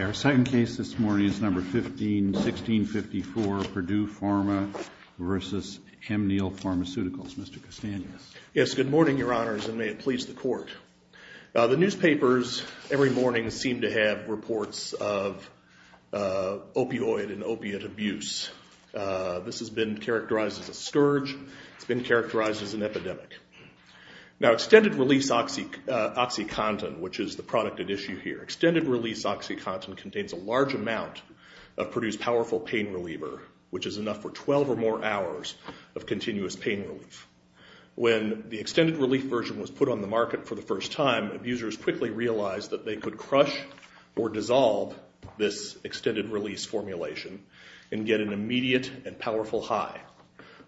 Our second case this morning is No. 15-1654, Purdue Pharma v. Amneal Pharmaceuticals. Mr. Castanhas. Yes, good morning, Your Honors, and may it please the Court. The newspapers every morning seem to have reports of opioid and opiate abuse. This has been characterized as a scourge. It's been characterized as an epidemic. Now, extended-release OxyContin, which is the product at issue here. Extended-release OxyContin contains a large amount of Purdue's powerful pain reliever, which is enough for 12 or more hours of continuous pain relief. When the extended-relief version was put on the market for the first time, abusers quickly realized that they could crush or dissolve this extended-release formulation and get an immediate and powerful high.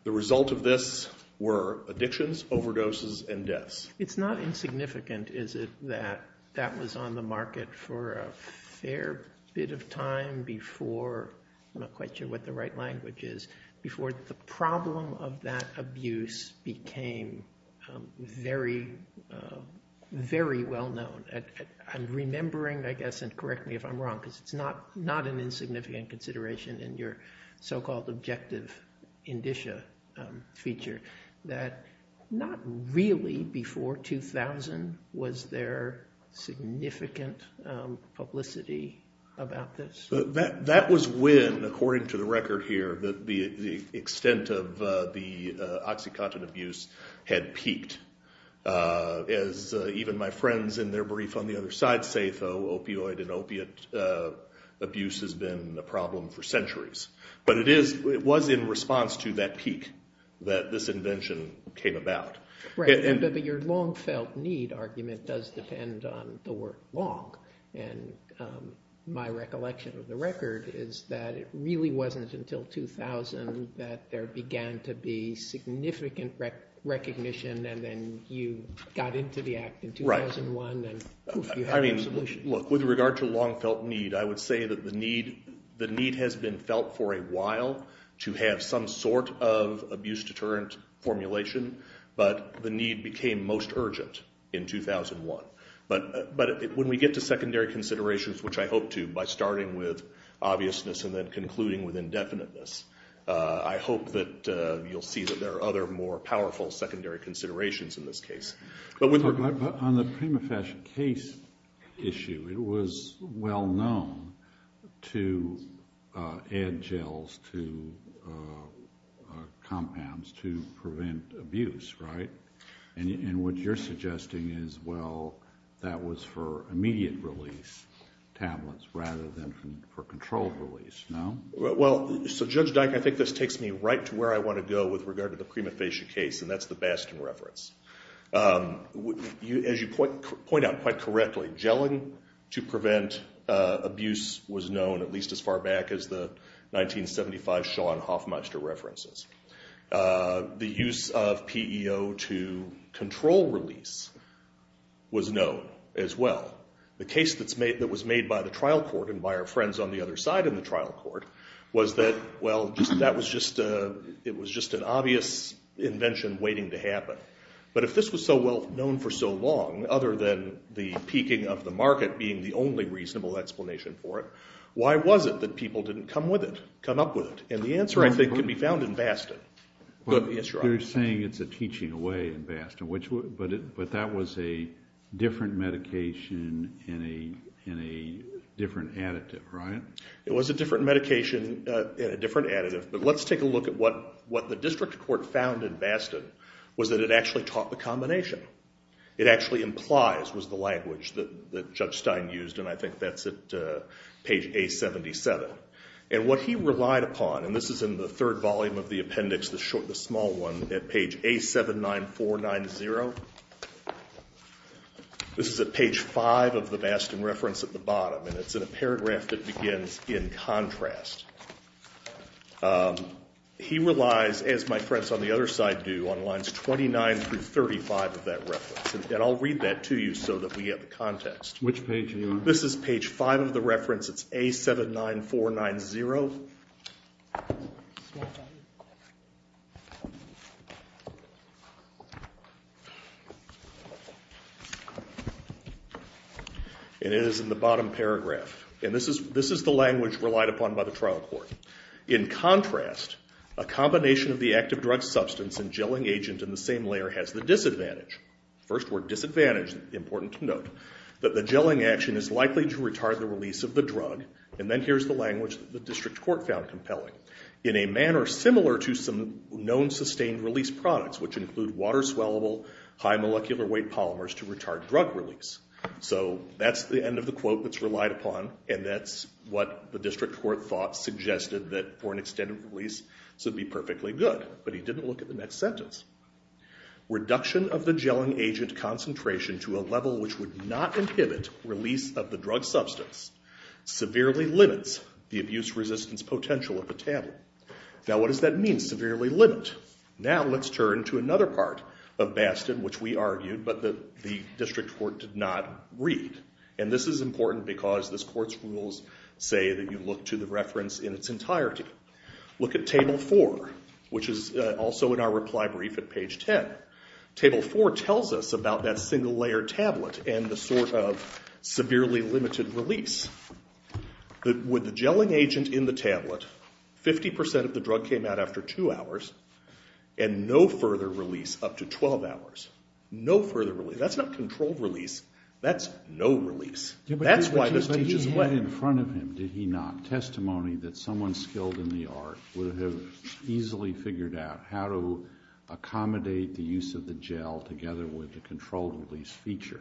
The result of this were addictions, overdoses, and deaths. It's not insignificant, is it, that that was on the market for a fair bit of time before—I'm not quite sure what the right language is—before the problem of that abuse became very, very well known. I'm remembering, I guess, and correct me if I'm wrong, because it's not an insignificant consideration in your so-called objective indicia feature, that not really before 2000 was there significant publicity about this. That was when, according to the record here, the extent of the OxyContin abuse had peaked. As even my friends in their brief on the other side say, though, opioid and opiate abuse has been a problem for centuries. But it was in response to that peak that this invention came about. Right, but your long-felt-need argument does depend on the word long. And my recollection of the record is that it really wasn't until 2000 that there began to be significant recognition, and then you got into the act in 2001, and poof, you had a solution. But the need became most urgent in 2001. But when we get to secondary considerations, which I hope to, by starting with obviousness and then concluding with indefiniteness, I hope that you'll see that there are other more powerful secondary considerations in this case. But on the prima facie case issue, it was well known to add gels to compounds to prevent abuse, right? And what you're suggesting is, well, that was for immediate release tablets rather than for controlled release, no? Well, so Judge Dyke, I think this takes me right to where I want to go with regard to the prima facie case, and that's the Baston reference. As you point out quite correctly, gelling to prevent abuse was known at least as far back as the 1975 Sean Hoffmeister references. The use of PEO to control release was known as well. The case that was made by the trial court and by our friends on the other side of the trial court was that, well, it was just an obvious invention waiting to happen. But if this was so well known for so long, other than the peaking of the market being the only reasonable explanation for it, why was it that people didn't come with it, come up with it? And the answer, I think, can be found in Baston. You're saying it's a teaching away in Baston, but that was a different medication in a different additive, right? It was a different medication in a different additive. But let's take a look at what the district court found in Baston was that it actually taught the combination. It actually implies was the language that Judge Stein used, and I think that's at page A77. And what he relied upon, and this is in the third volume of the appendix, the small one at page A79490. This is at page five of the Baston reference at the bottom, and it's in a paragraph that begins in contrast. He relies, as my friends on the other side do, on lines 29 through 35 of that reference. And I'll read that to you so that we get the context. Which page are you on? This is page five of the reference. It's A79490. And it is in the bottom paragraph. And this is the language relied upon by the trial court. In contrast, a combination of the active drug substance and gelling agent in the same layer has the disadvantage. First word, disadvantage, important to note. That the gelling action is likely to retard the release of the drug. And then here's the language that the district court found compelling. In a manner similar to some known sustained release products, which include water-swellable, high molecular weight polymers to retard drug release. So that's the end of the quote that's relied upon, and that's what the district court thought suggested that for an extended release this would be perfectly good. But he didn't look at the next sentence. Reduction of the gelling agent concentration to a level which would not inhibit release of the drug substance severely limits the abuse resistance potential of the table. Now what does that mean, severely limit? Now let's turn to another part of Bastin which we argued but the district court did not read. And this is important because this court's rules say that you look to the reference in its entirety. Look at Table 4, which is also in our reply brief at page 10. Table 4 tells us about that single-layered tablet and the sort of severely limited release. With the gelling agent in the tablet, 50% of the drug came out after two hours, and no further release up to 12 hours. No further release. That's not controlled release. That's no release. But he had in front of him, did he not, testimony that someone skilled in the art would have easily figured out how to accommodate the use of the gel together with the controlled release feature.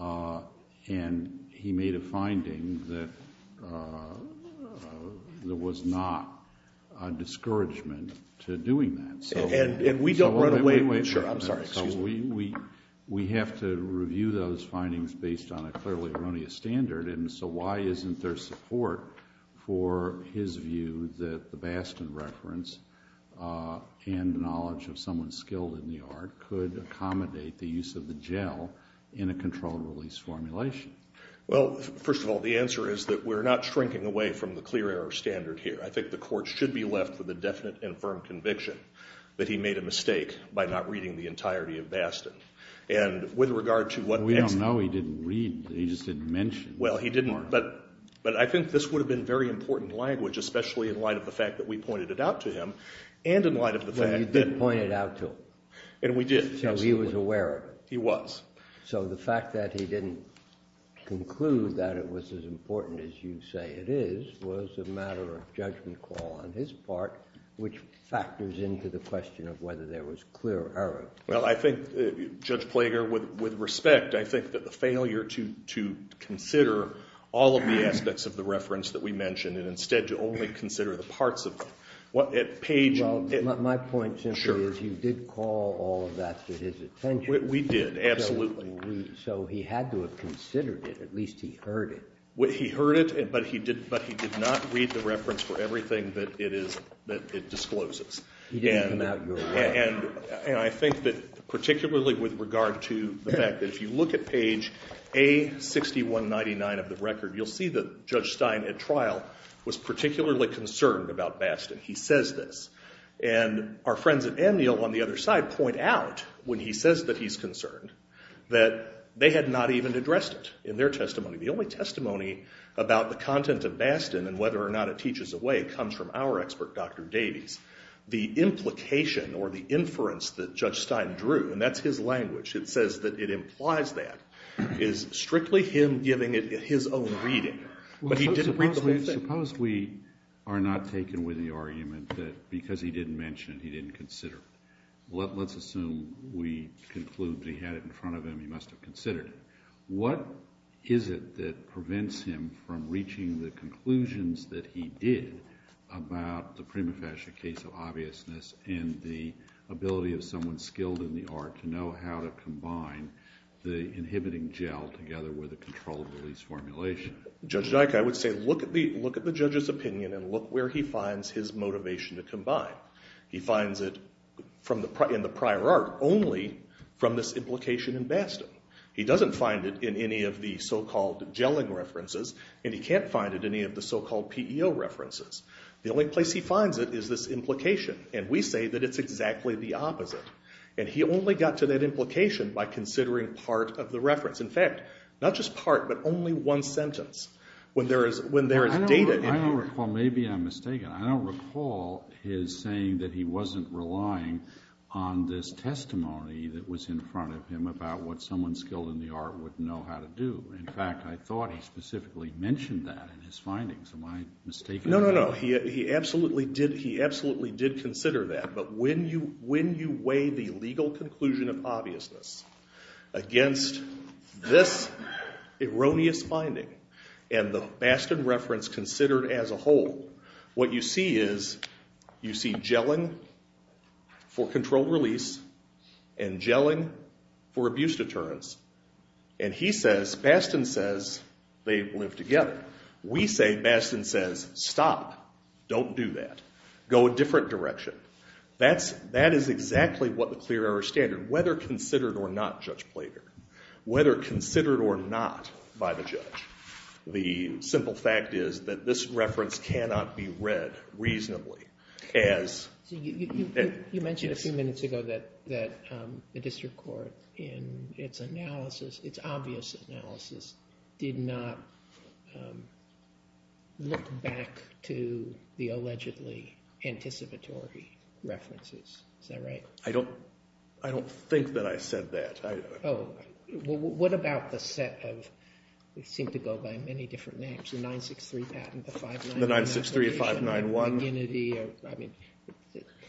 And he made a finding that there was not a discouragement to doing that. And we don't run away with that. We have to review those findings based on a clearly erroneous standard, and so why isn't there support for his view that the Bastin reference and knowledge of someone skilled in the art could accommodate the use of the gel in a controlled release formulation? Well, first of all, the answer is that we're not shrinking away from the clear error standard here. I think the court should be left with a definite and firm conviction that he made a mistake by not reading the entirety of Bastin. And with regard to what next— We don't know. He didn't read. He just didn't mention. Well, he didn't, but I think this would have been very important language, especially in light of the fact that we pointed it out to him and in light of the fact that— Well, you did point it out to him. And we did, absolutely. So he was aware of it. He was. So the fact that he didn't conclude that it was as important as you say it is was a matter of judgment call on his part, which factors into the question of whether there was clear error. Well, I think, Judge Plager, with respect, I think that the failure to consider all of the aspects of the reference that we mentioned and instead to only consider the parts of them. Well, my point simply is you did call all of that to his attention. We did, absolutely. So he had to have considered it. At least he heard it. He heard it, but he did not read the reference for everything that it discloses. He didn't come out your way. And I think that particularly with regard to the fact that if you look at page A6199 of the record, you'll see that Judge Stein at trial was particularly concerned about Bastin. He says this. And our friends at Amnial on the other side point out when he says that he's concerned that they had not even addressed it in their testimony. The only testimony about the content of Bastin and whether or not it teaches away comes from our expert, Dr. Davies. The implication or the inference that Judge Stein drew, and that's his language, it says that it implies that, is strictly him giving it his own reading. Suppose we are not taken with the argument that because he didn't mention it he didn't consider it. Let's assume we conclude that he had it in front of him, he must have considered it. What is it that prevents him from reaching the conclusions that he did about the prima facie case of obviousness and the ability of someone skilled in the art to know how to combine the inhibiting gel together with a controllable release formulation? Judge Dyke, I would say look at the judge's opinion and look where he finds his motivation to combine. He finds it in the prior art only from this implication in Bastin. He doesn't find it in any of the so-called gelling references, and he can't find it in any of the so-called PEO references. The only place he finds it is this implication, and we say that it's exactly the opposite. And he only got to that implication by considering part of the reference. In fact, not just part, but only one sentence when there is data in here. Well, maybe I'm mistaken. I don't recall his saying that he wasn't relying on this testimony that was in front of him about what someone skilled in the art would know how to do. In fact, I thought he specifically mentioned that in his findings. Am I mistaken? No, no, no. He absolutely did consider that. But when you weigh the legal conclusion of obviousness against this erroneous finding and the Bastin reference considered as a whole, what you see is you see gelling for controlled release and gelling for abuse deterrence. And he says, Bastin says, they live together. We say, Bastin says, stop. Don't do that. Go a different direction. That is exactly what the clear error standard, whether considered or not judged plagiarism, whether considered or not by the judge. The simple fact is that this reference cannot be read reasonably as You mentioned a few minutes ago that the district court in its analysis, did not look back to the allegedly anticipatory references. Is that right? I don't think that I said that. Oh. What about the set of, it seemed to go by many different names, the 963 patent, the 591. The 963, 591.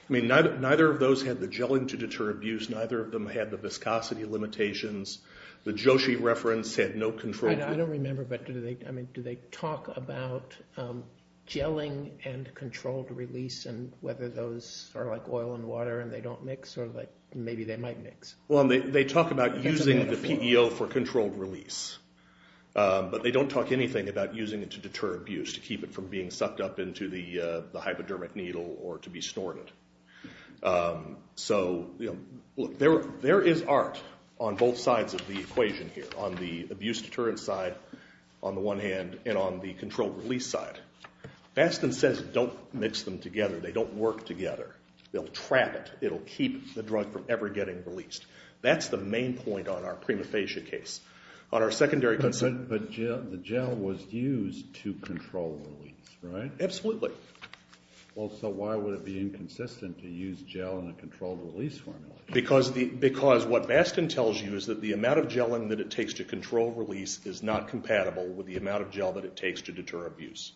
I mean, neither of those had the gelling to deter abuse. Neither of them had the viscosity limitations. The Joshi reference had no control. I don't remember, but do they talk about gelling and controlled release and whether those are like oil and water and they don't mix or maybe they might mix. Well, they talk about using the PEO for controlled release. But they don't talk anything about using it to deter abuse, to keep it from being sucked up into the hypodermic needle or to be snorted. So there is art on both sides of the equation here, on the abuse deterrent side on the one hand and on the controlled release side. Bastin says don't mix them together. They don't work together. They'll trap it. It'll keep the drug from ever getting released. That's the main point on our prima facie case. But the gel was used to control release, right? Absolutely. Well, so why would it be inconsistent to use gel in a controlled release formula? Because what Bastin tells you is that the amount of gelling that it takes to control release is not compatible with the amount of gel that it takes to deter abuse.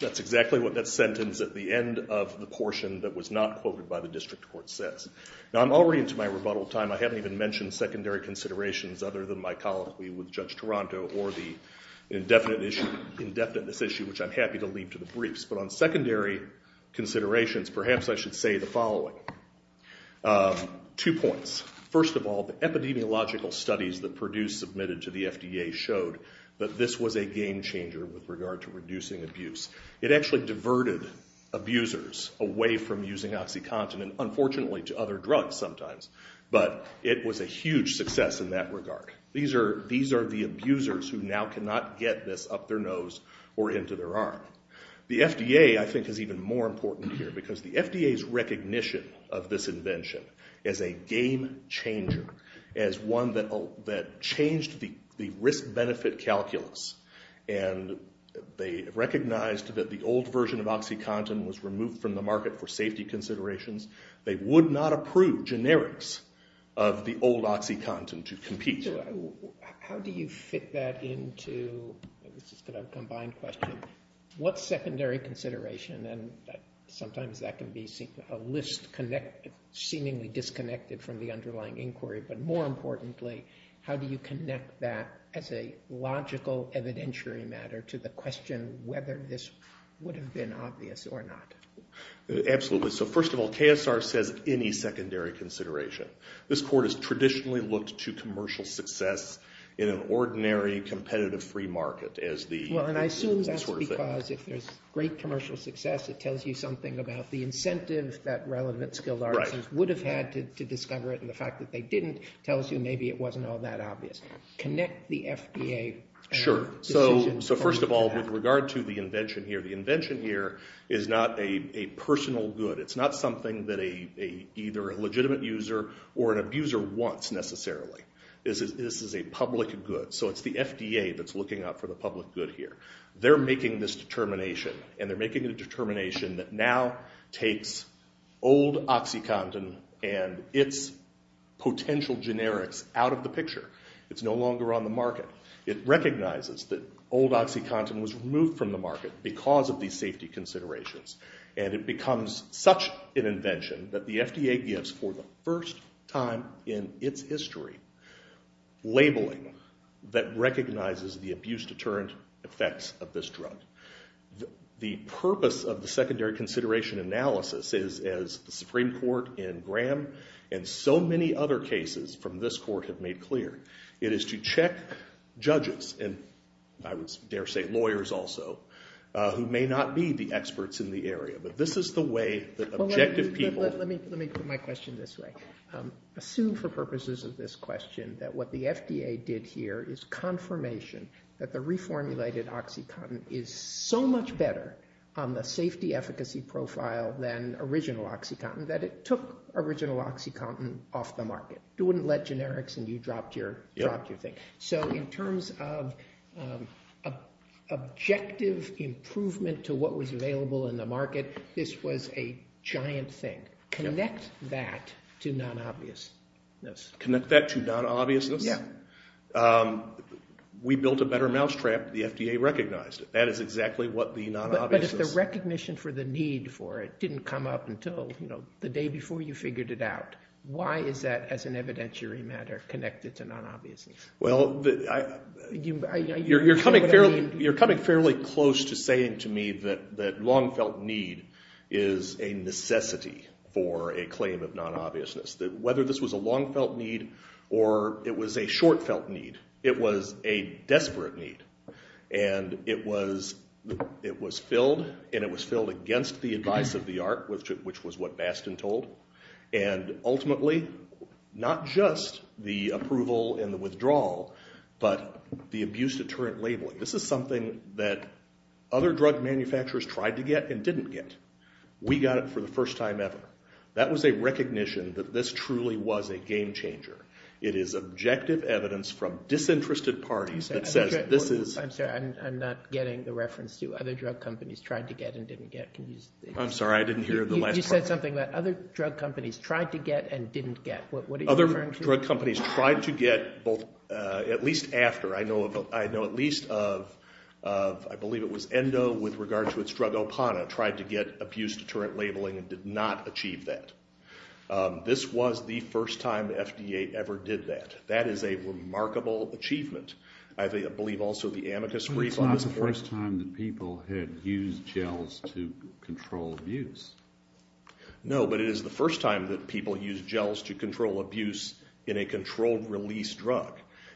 That's exactly what that sentence at the end of the portion that was not quoted by the district court says. Now, I'm already into my rebuttal time. I haven't even mentioned secondary considerations other than my colloquy with Judge Taranto or the indefiniteness issue, which I'm happy to leave to the briefs. But on secondary considerations, perhaps I should say the following. Two points. First of all, the epidemiological studies that Purdue submitted to the FDA showed that this was a game changer with regard to reducing abuse. It actually diverted abusers away from using OxyContin, and unfortunately to other drugs sometimes. But it was a huge success in that regard. These are the abusers who now cannot get this up their nose or into their arm. The FDA, I think, is even more important here because the FDA's recognition of this invention as a game changer, as one that changed the risk-benefit calculus, and they recognized that the old version of OxyContin was removed from the market for safety considerations. They would not approve generics of the old OxyContin to compete. So how do you fit that into the combined question? What secondary consideration, and sometimes that can be a list seemingly disconnected from the underlying inquiry, but more importantly, how do you connect that as a logical evidentiary matter to the question whether this would have been obvious or not? Absolutely. So first of all, KSR says any secondary consideration. This court has traditionally looked to commercial success in an ordinary competitive free market as the sort of thing. Well, and I assume that's because if there's great commercial success, it tells you something about the incentive that relevant skilled artisans would have had to discover it, and the fact that they didn't tells you maybe it wasn't all that obvious. Connect the FDA decision to that. Sure. So first of all, with regard to the invention here, the invention here is not a personal good. It's not something that either a legitimate user or an abuser wants necessarily. This is a public good. So it's the FDA that's looking out for the public good here. They're making this determination, and they're making a determination that now takes old OxyContin and its potential generics out of the picture. It's no longer on the market. It recognizes that old OxyContin was removed from the market because of these safety considerations, and it becomes such an invention that the FDA gives for the first time in its history labeling that recognizes the abuse deterrent effects of this drug. The purpose of the secondary consideration analysis is, as the Supreme Court in Graham and so many other cases from this court have made clear, it is to check judges, and I would dare say lawyers also, who may not be the experts in the area. But this is the way that objective people... Let me put my question this way. Assume for purposes of this question that what the FDA did here is confirmation that the reformulated OxyContin is so much better on the safety efficacy profile than original OxyContin that it took original OxyContin off the market. It wouldn't let generics in. You dropped your thing. So in terms of objective improvement to what was available in the market, this was a giant thing. Connect that to non-obviousness. Connect that to non-obviousness? Yeah. We built a better mousetrap. The FDA recognized it. That is exactly what the non-obviousness... But if the recognition for the need for it didn't come up until the day before you figured it out, why is that, as an evidentiary matter, connected to non-obviousness? Well, you're coming fairly close to saying to me that long-felt need is a necessity for a claim of non-obviousness. Whether this was a long-felt need or it was a short-felt need, it was a desperate need, and it was filled, and it was filled against the advice of the art, which was what Bastin told, and ultimately not just the approval and the withdrawal but the abuse deterrent labeling. This is something that other drug manufacturers tried to get and didn't get. We got it for the first time ever. That was a recognition that this truly was a game changer. It is objective evidence from disinterested parties that says this is... I'm sorry, I'm not getting the reference to other drug companies trying to get and didn't get. I'm sorry, I didn't hear the last part. You said something about other drug companies tried to get and didn't get. What are you referring to? Other drug companies tried to get, at least after. I know at least of, I believe it was Endo, with regard to its drug Opana, tried to get abuse deterrent labeling and did not achieve that. This was the first time the FDA ever did that. That is a remarkable achievement. I believe also the amicus brief on this. It's not the first time that people had used gels to control abuse. No, but it is the first time that people used gels to control abuse in a controlled release drug,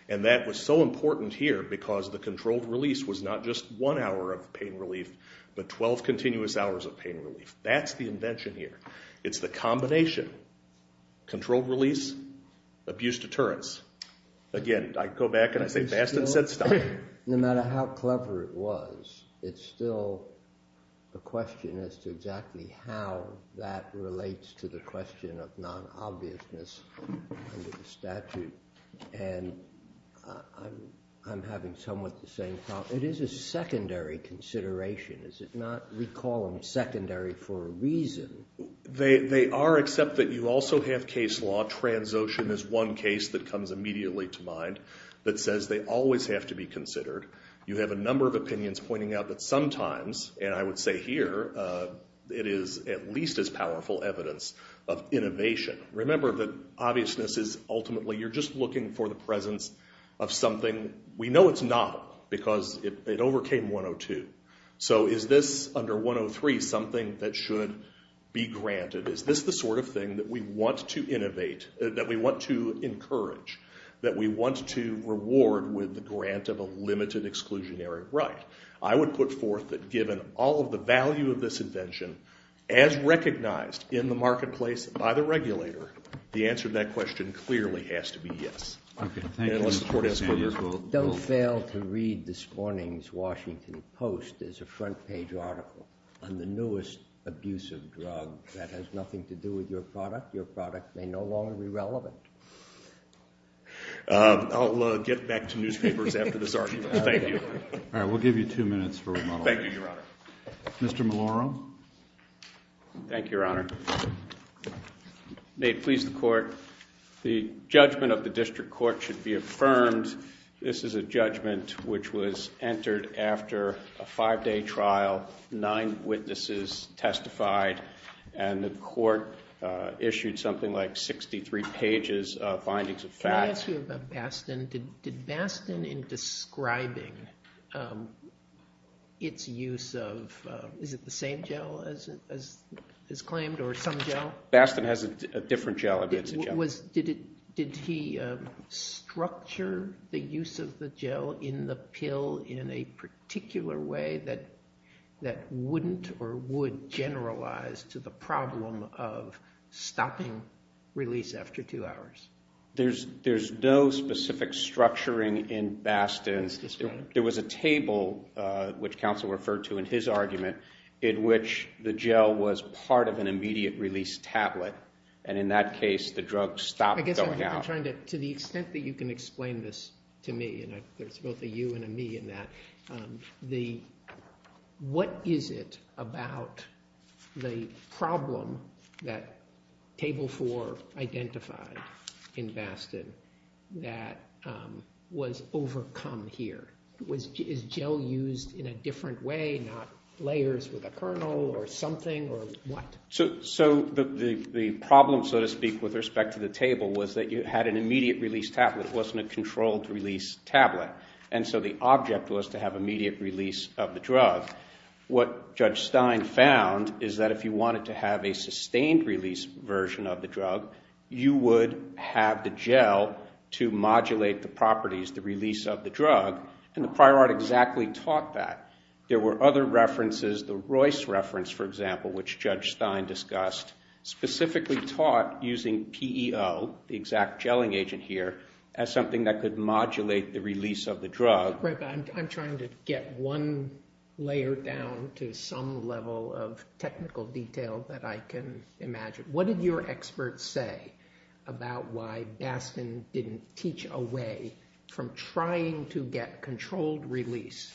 and that was so important here because the controlled release was not just one hour of pain relief but 12 continuous hours of pain relief. That's the invention here. It's the combination. Controlled release, abuse deterrents. Again, I go back and I say Bastin said stop. No matter how clever it was, it's still a question as to exactly how that relates to the question of non-obviousness under the statute, and I'm having somewhat the same problem. It is a secondary consideration, is it not? We call them secondary for a reason. They are, except that you also have case law. Transocean is one case that comes immediately to mind that says they always have to be considered. You have a number of opinions pointing out that sometimes, and I would say here, it is at least as powerful evidence of innovation. Remember that obviousness is ultimately you're just looking for the presence of something we know it's not because it overcame 102. So is this under 103 something that should be granted? Is this the sort of thing that we want to innovate, that we want to encourage, that we want to reward with the grant of a limited exclusionary right? I would put forth that given all of the value of this invention, as recognized in the marketplace by the regulator, the answer to that question clearly has to be yes. Unless the court has further questions. Don't fail to read this morning's Washington Post as a front page article on the newest abusive drug that has nothing to do with your product. Your product may no longer be relevant. I'll get back to newspapers after this argument. Thank you. All right, we'll give you two minutes for remodeling. Thank you, Your Honor. Mr. Maloro. Thank you, Your Honor. May it please the court, the judgment of the district court should be affirmed. This is a judgment which was entered after a five-day trial, nine witnesses testified, and the court issued something like 63 pages of findings of facts. Can I ask you about Bastin? Did Bastin in describing its use of, is it the same gel as claimed or some gel? Bastin has a different gel. Did he structure the use of the gel in the pill in a particular way that wouldn't or would generalize to the problem of stopping release after two hours? There's no specific structuring in Bastin. There was a table, which counsel referred to in his argument, in which the gel was part of an immediate release tablet, and in that case the drug stopped going out. To the extent that you can explain this to me, and there's both a you and a me in that, what is it about the problem that Table 4 identified in Bastin that was overcome here? Is gel used in a different way, not layers with a kernel or something, or what? So the problem, so to speak, with respect to the table, was that you had an immediate release tablet. It wasn't a controlled release tablet. And so the object was to have immediate release of the drug. What Judge Stein found is that if you wanted to have a sustained release version of the drug, you would have the gel to modulate the properties, the release of the drug, and the prior art exactly taught that. There were other references, the Royce reference, for example, which Judge Stein discussed, specifically taught using PEO, the exact gelling agent here, as something that could modulate the release of the drug. I'm trying to get one layer down to some level of technical detail that I can imagine. What did your experts say about why Bastin didn't teach a way from trying to get controlled release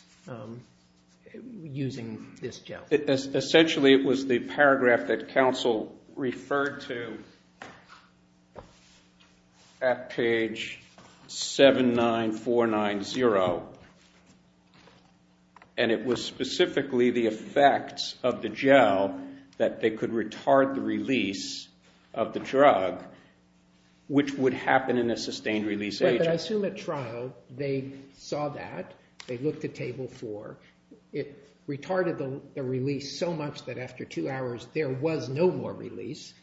using this gel? Essentially, it was the paragraph that counsel referred to at page 79490, and it was specifically the effects of the gel that they could retard the release of the drug, which would happen in a sustained release agent. But I assume at trial they saw that. They looked at Table 4. It retarded the release so much that after two hours there was no more release.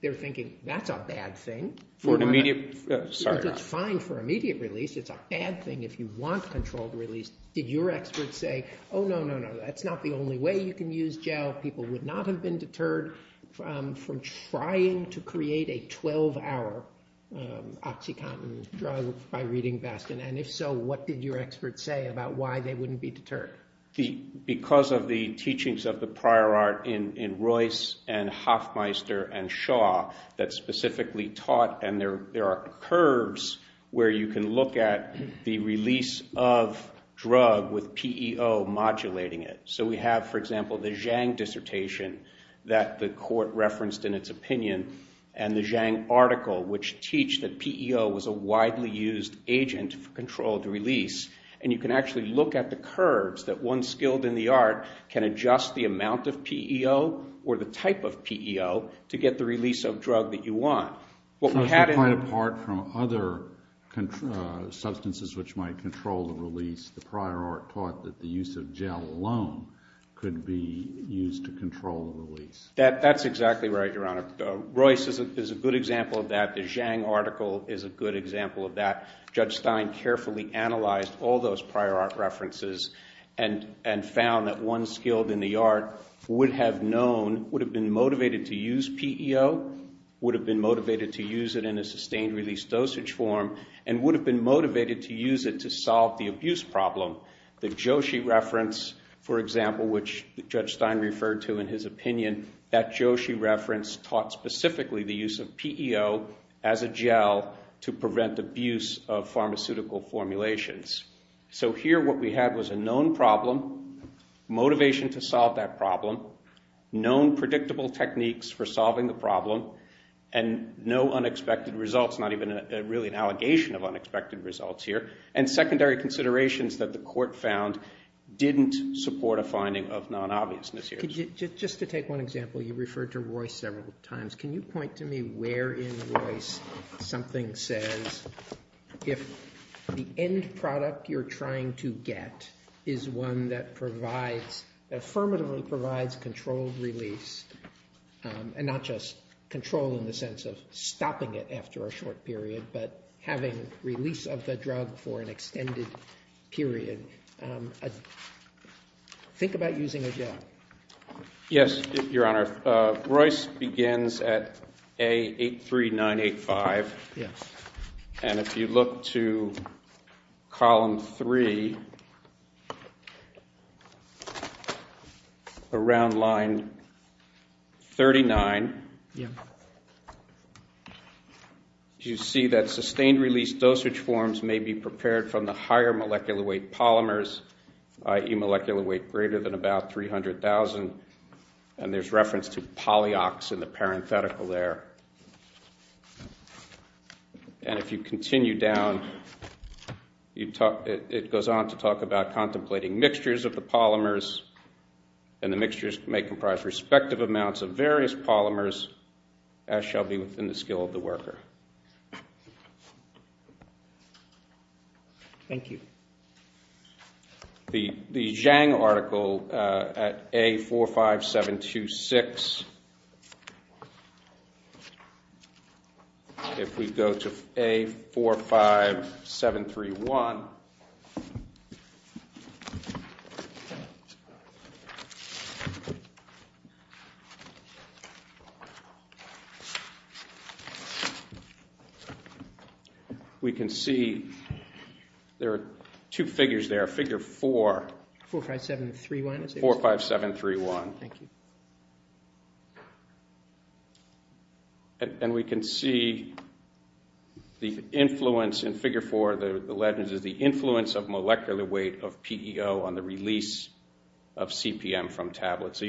They're thinking, that's a bad thing. For an immediate, sorry. It's fine for immediate release. It's a bad thing if you want controlled release. Did your experts say, oh, no, no, no, that's not the only way you can use gel. People would not have been deterred from trying to create a 12-hour OxyContin drug by reading Bastin. And if so, what did your experts say about why they wouldn't be deterred? Because of the teachings of the prior art in Royce and Hoffmeister and Shaw that specifically taught, and there are curves where you can look at the release of drug with PEO modulating it. So we have, for example, the Zhang dissertation that the court referenced in its opinion and the Zhang article which teach that PEO was a widely used agent for controlled release. And you can actually look at the curves that one skilled in the art can adjust the amount of PEO or the type of PEO to get the release of drug that you want. So it's quite apart from other substances which might control the release. The prior art taught that the use of gel alone could be used to control the release. That's exactly right, Your Honor. Royce is a good example of that. The Zhang article is a good example of that. Judge Stein carefully analyzed all those prior art references and found that one skilled in the art would have known, would have been motivated to use PEO, would have been motivated to use it in a sustained release dosage form, and would have been motivated to use it to solve the abuse problem. The Joshi reference, for example, which Judge Stein referred to in his opinion, that Joshi reference taught specifically the use of PEO as a gel to prevent abuse of pharmaceutical formulations. So here what we had was a known problem, motivation to solve that problem, known predictable techniques for solving the problem, and no unexpected results, not even really an allegation of unexpected results here, and secondary considerations that the court found didn't support a finding of non-obviousness here. Just to take one example, you referred to Royce several times. Can you point to me where in Royce something says if the end product you're trying to get is one that affirmatively provides controlled release, and not just control in the sense of stopping it after a short period, but having release of the drug for an extended period? Think about using a gel. Yes, Your Honor. Royce begins at A83985. Yes. And if you look to column three, around line 39, Yeah. you see that sustained release dosage forms may be prepared from the higher molecular weight polymers, i.e. molecular weight greater than about 300,000, and there's reference to polyox in the parenthetical there. And if you continue down, it goes on to talk about contemplating mixtures of the polymers, and the mixtures may comprise respective amounts of various polymers, as shall be within the skill of the worker. Thank you. The Zhang article at A45726. Yes. If we go to A45731, we can see there are two figures there. Figure four. 45731. 45731. Thank you. And we can see the influence in figure four, the legend, is the influence of molecular weight of PEO on the release of CPM from tablets. So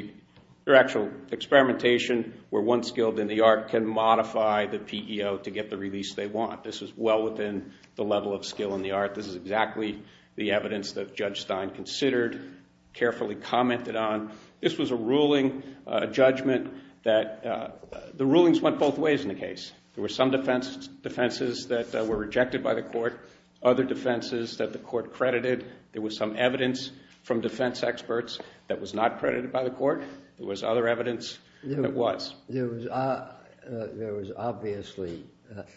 your actual experimentation where one skilled in the art can modify the PEO to get the release they want. This is well within the level of skill in the art. This is exactly the evidence that Judge Stein considered, carefully commented on. This was a ruling, a judgment that the rulings went both ways in the case. There were some defenses that were rejected by the court, other defenses that the court credited. There was some evidence from defense experts that was not credited by the court. There was other evidence that was. There was obviously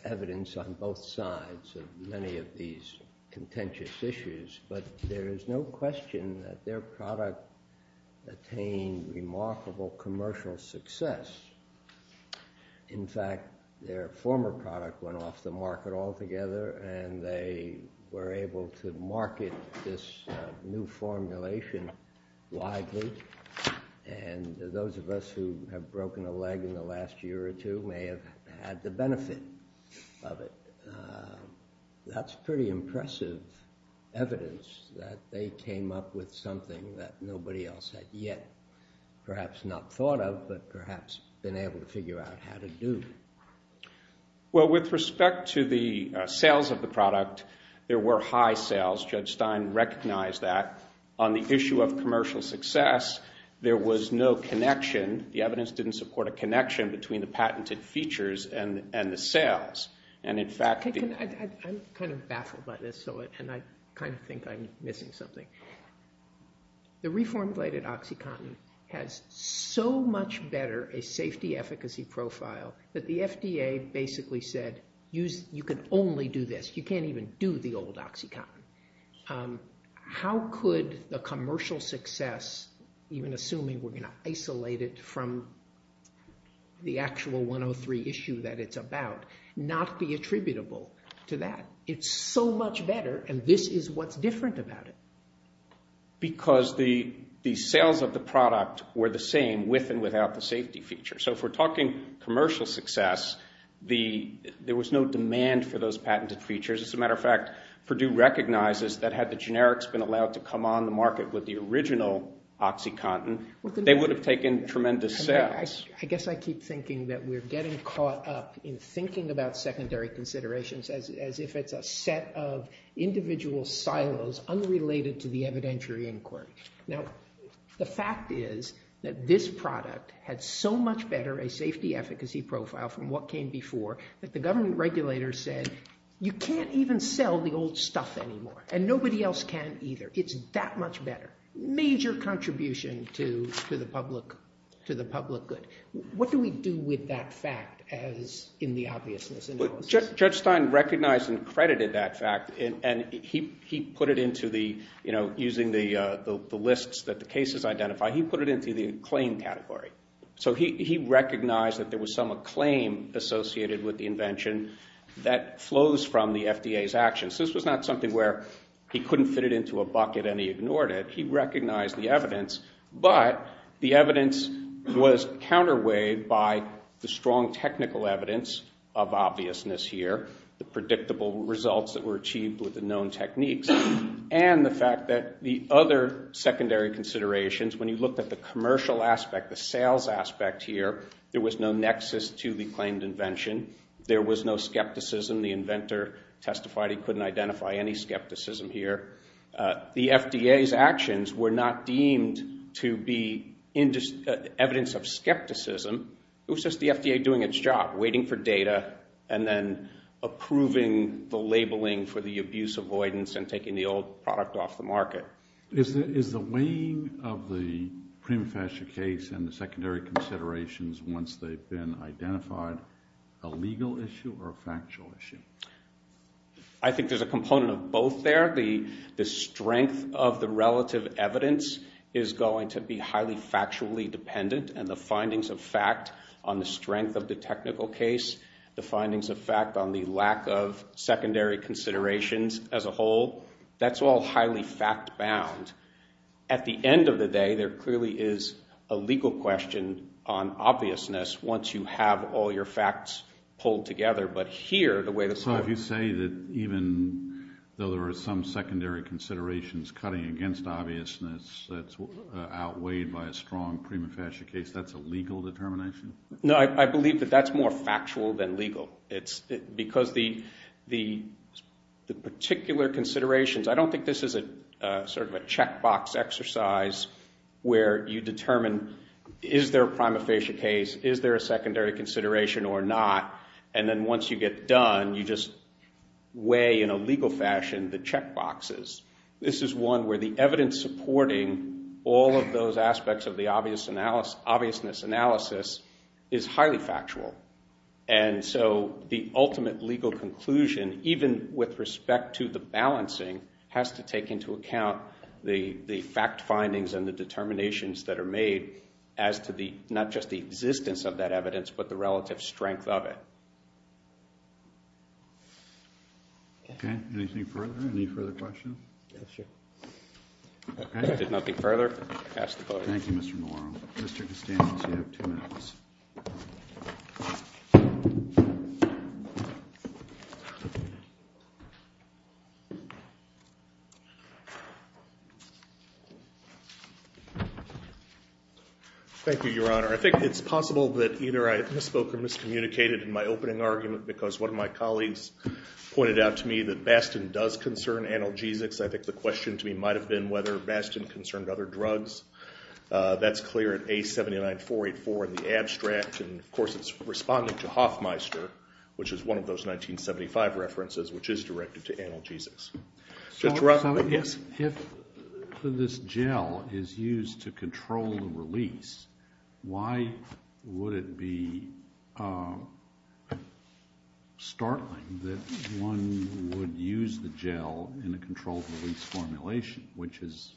evidence on both sides of many of these contentious issues, but there is no question that their product attained remarkable commercial success. In fact, their former product went off the market altogether, and they were able to market this new formulation widely. And those of us who have broken a leg in the last year or two may have had the benefit of it. That's pretty impressive evidence that they came up with something that nobody else had yet, perhaps not thought of, but perhaps been able to figure out how to do. Well, with respect to the sales of the product, there were high sales. Judge Stein recognized that. On the issue of commercial success, there was no connection. The evidence didn't support a connection between the patented features and the sales. And, in fact— I'm kind of baffled by this, and I kind of think I'm missing something. The reformulated OxyContin has so much better a safety efficacy profile that the FDA basically said, You can only do this. You can't even do the old OxyContin. How could the commercial success, even assuming we're going to isolate it from the actual 103 issue that it's about, not be attributable to that? It's so much better, and this is what's different about it. Because the sales of the product were the same with and without the safety feature. So if we're talking commercial success, there was no demand for those patented features. As a matter of fact, Purdue recognizes that had the generics been allowed to come on the market with the original OxyContin, they would have taken tremendous sales. I guess I keep thinking that we're getting caught up in thinking about secondary considerations as if it's a set of individual silos unrelated to the evidentiary inquiry. The fact is that this product had so much better a safety efficacy profile from what came before that the government regulators said, You can't even sell the old stuff anymore, and nobody else can either. It's that much better. Major contribution to the public good. What do we do with that fact in the obviousness analysis? Judge Stein recognized and credited that fact, and he put it into the, using the lists that the cases identify, he put it into the acclaimed category. He recognized that there was some acclaim associated with the invention that flows from the FDA's actions. This was not something where he couldn't fit it into a bucket and he ignored it. He recognized the evidence, but the evidence was counterweighed by the strong technical evidence of obviousness here, the predictable results that were achieved with the known techniques, and the fact that the other secondary considerations, when you looked at the commercial aspect, the sales aspect here, there was no nexus to the claimed invention. There was no skepticism. The inventor testified he couldn't identify any skepticism here. The FDA's actions were not deemed to be evidence of skepticism. It was just the FDA doing its job, waiting for data, and then approving the labeling for the abuse avoidance and taking the old product off the market. Is the weighing of the prima facie case and the secondary considerations, once they've been identified, a legal issue or a factual issue? I think there's a component of both there. The strength of the relative evidence is going to be highly factually dependent, and the findings of fact on the strength of the technical case, the findings of fact on the lack of secondary considerations as a whole, that's all highly fact-bound. At the end of the day, there clearly is a legal question on obviousness once you have all your facts pulled together. So if you say that even though there are some secondary considerations cutting against obviousness that's outweighed by a strong prima facie case, that's a legal determination? No, I believe that that's more factual than legal. Because the particular considerations, I don't think this is sort of a checkbox exercise where you determine is there a prima facie case, is there a secondary consideration or not, and then once you get done, you just weigh in a legal fashion the checkboxes. This is one where the evidence supporting all of those aspects of the obviousness analysis is highly factual. And so the ultimate legal conclusion, even with respect to the balancing, has to take into account the fact findings and the determinations that are made as to not just the existence of that evidence but the relative strength of it. Okay, anything further? Any further questions? Okay, if there's nothing further, I'll pass the vote. Thank you, Mr. Malone. Mr. Costanze, you have two minutes. Thank you, Your Honor. I think it's possible that either I misspoke or miscommunicated in my opening argument because one of my colleagues pointed out to me that Bastin does concern analgesics. I think the question to me might have been whether Bastin concerned other drugs. That's clear at A79484 in the abstract, and of course it's responding to Hoffmeister, which is one of those 1975 references, which is directed to analgesics. Justice Rothfeld? Yes. If this gel is used to control the release, why would it be startling that one would use the gel in a controlled release formulation, which is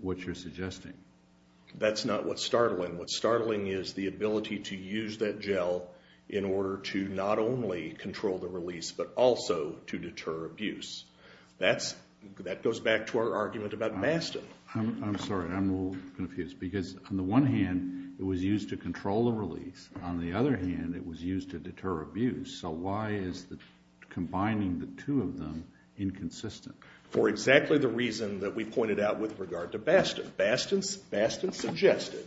what you're suggesting? That's not what's startling. What's startling is the ability to use that gel in order to not only control the release but also to deter abuse. That goes back to our argument about Bastin. I'm sorry. I'm a little confused. Because on the one hand, it was used to control the release. On the other hand, it was used to deter abuse. So why is combining the two of them inconsistent? For exactly the reason that we pointed out with regard to Bastin. Bastin suggested,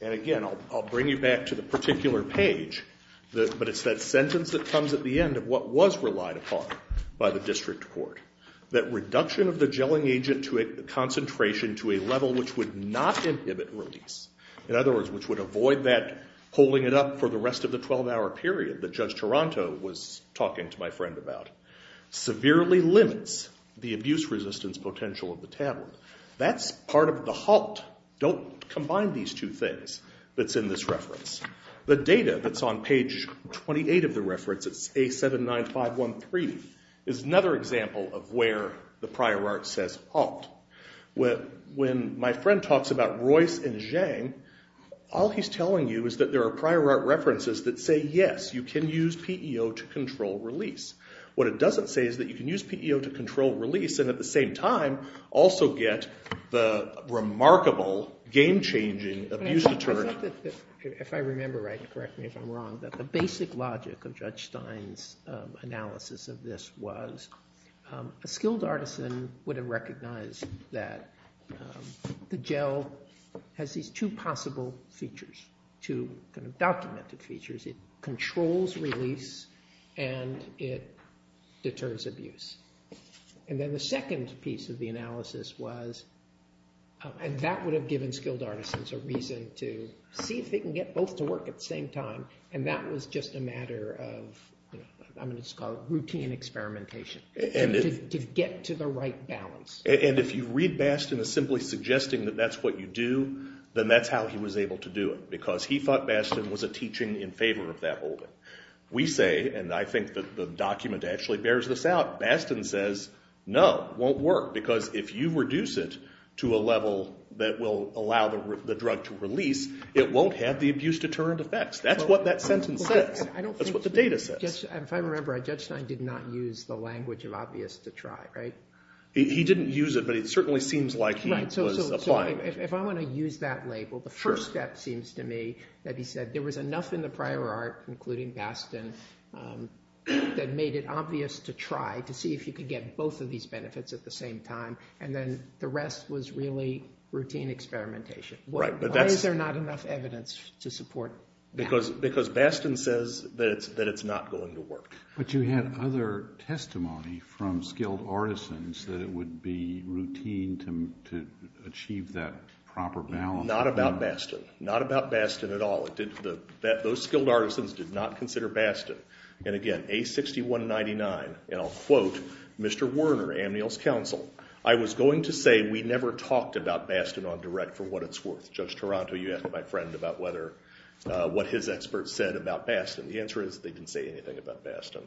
and again, I'll bring you back to the particular page, but it's that sentence that comes at the end of what was relied upon by the district court, that reduction of the gelling agent to a concentration to a level which would not inhibit release, in other words, which would avoid that holding it up for the rest of the 12-hour period that Judge Taranto was talking to my friend about, severely limits the abuse resistance potential of the tablet. That's part of the halt. Don't combine these two things that's in this reference. The data that's on page 28 of the reference, it's A79513, is another example of where the prior art says halt. When my friend talks about Royce and Zhang, all he's telling you is that there are prior art references that say, yes, you can use PEO to control release. What it doesn't say is that you can use PEO to control release and at the same time also get the remarkable, game-changing abuse deterrent. If I remember right, correct me if I'm wrong, but the basic logic of Judge Stein's analysis of this was a skilled artisan would have recognized that the gel has these two possible features, two kind of documented features. It controls release and it deters abuse. Then the second piece of the analysis was, and that would have given skilled artisans a reason to see if they can get both to work at the same time, and that was just a matter of, I'm going to call it routine experimentation, to get to the right balance. If you read Bastin as simply suggesting that that's what you do, then that's how he was able to do it because he thought Bastin was a teaching in favor of that holding. We say, and I think the document actually bears this out, Bastin says, no, it won't work, because if you reduce it to a level that will allow the drug to release, it won't have the abuse deterrent effects. That's what that sentence says. That's what the data says. If I remember right, Judge Stein did not use the language of obvious to try, right? He didn't use it, but it certainly seems like he was applying it. If I'm going to use that label, the first step seems to me that he said there was enough in the prior art, including Bastin, that made it obvious to try, to see if you could get both of these benefits at the same time, and then the rest was really routine experimentation. Why is there not enough evidence to support that? Because Bastin says that it's not going to work. But you had other testimony from skilled artisans that it would be routine to achieve that proper balance. Not about Bastin. Not about Bastin at all. Those skilled artisans did not consider Bastin. And again, A6199, and I'll quote Mr. Werner, Amnial's counsel, I was going to say we never talked about Bastin on direct for what it's worth. Judge Taranto, you asked my friend about what his expert said about Bastin. The answer is they didn't say anything about Bastin.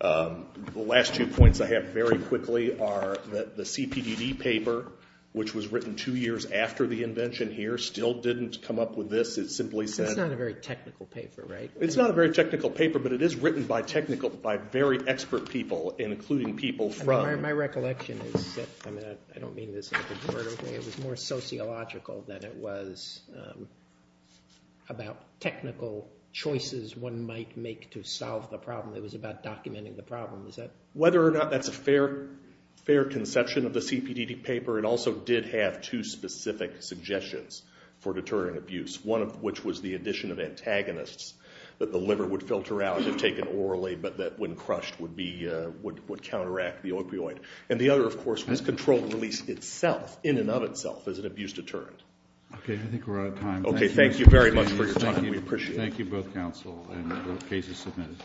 The last two points I have very quickly are that the CPDD paper, which was written two years after the invention here, still didn't come up with this. It's not a very technical paper, right? It's not a very technical paper, but it is written by very expert people, including people from... My recollection is that it was more sociological than it was about technical choices one might make to solve the problem. It was about documenting the problem. Whether or not that's a fair conception of the CPDD paper, it also did have two specific suggestions for deterring abuse. One of which was the addition of antagonists, that the liver would filter out if taken orally, but that when crushed would counteract the opioid. And the other, of course, was controlled release itself, in and of itself, as an abuse deterrent. Okay, I think we're out of time. Okay, thank you very much for your time. We appreciate it. Thank you, both counsel, and the case is submitted.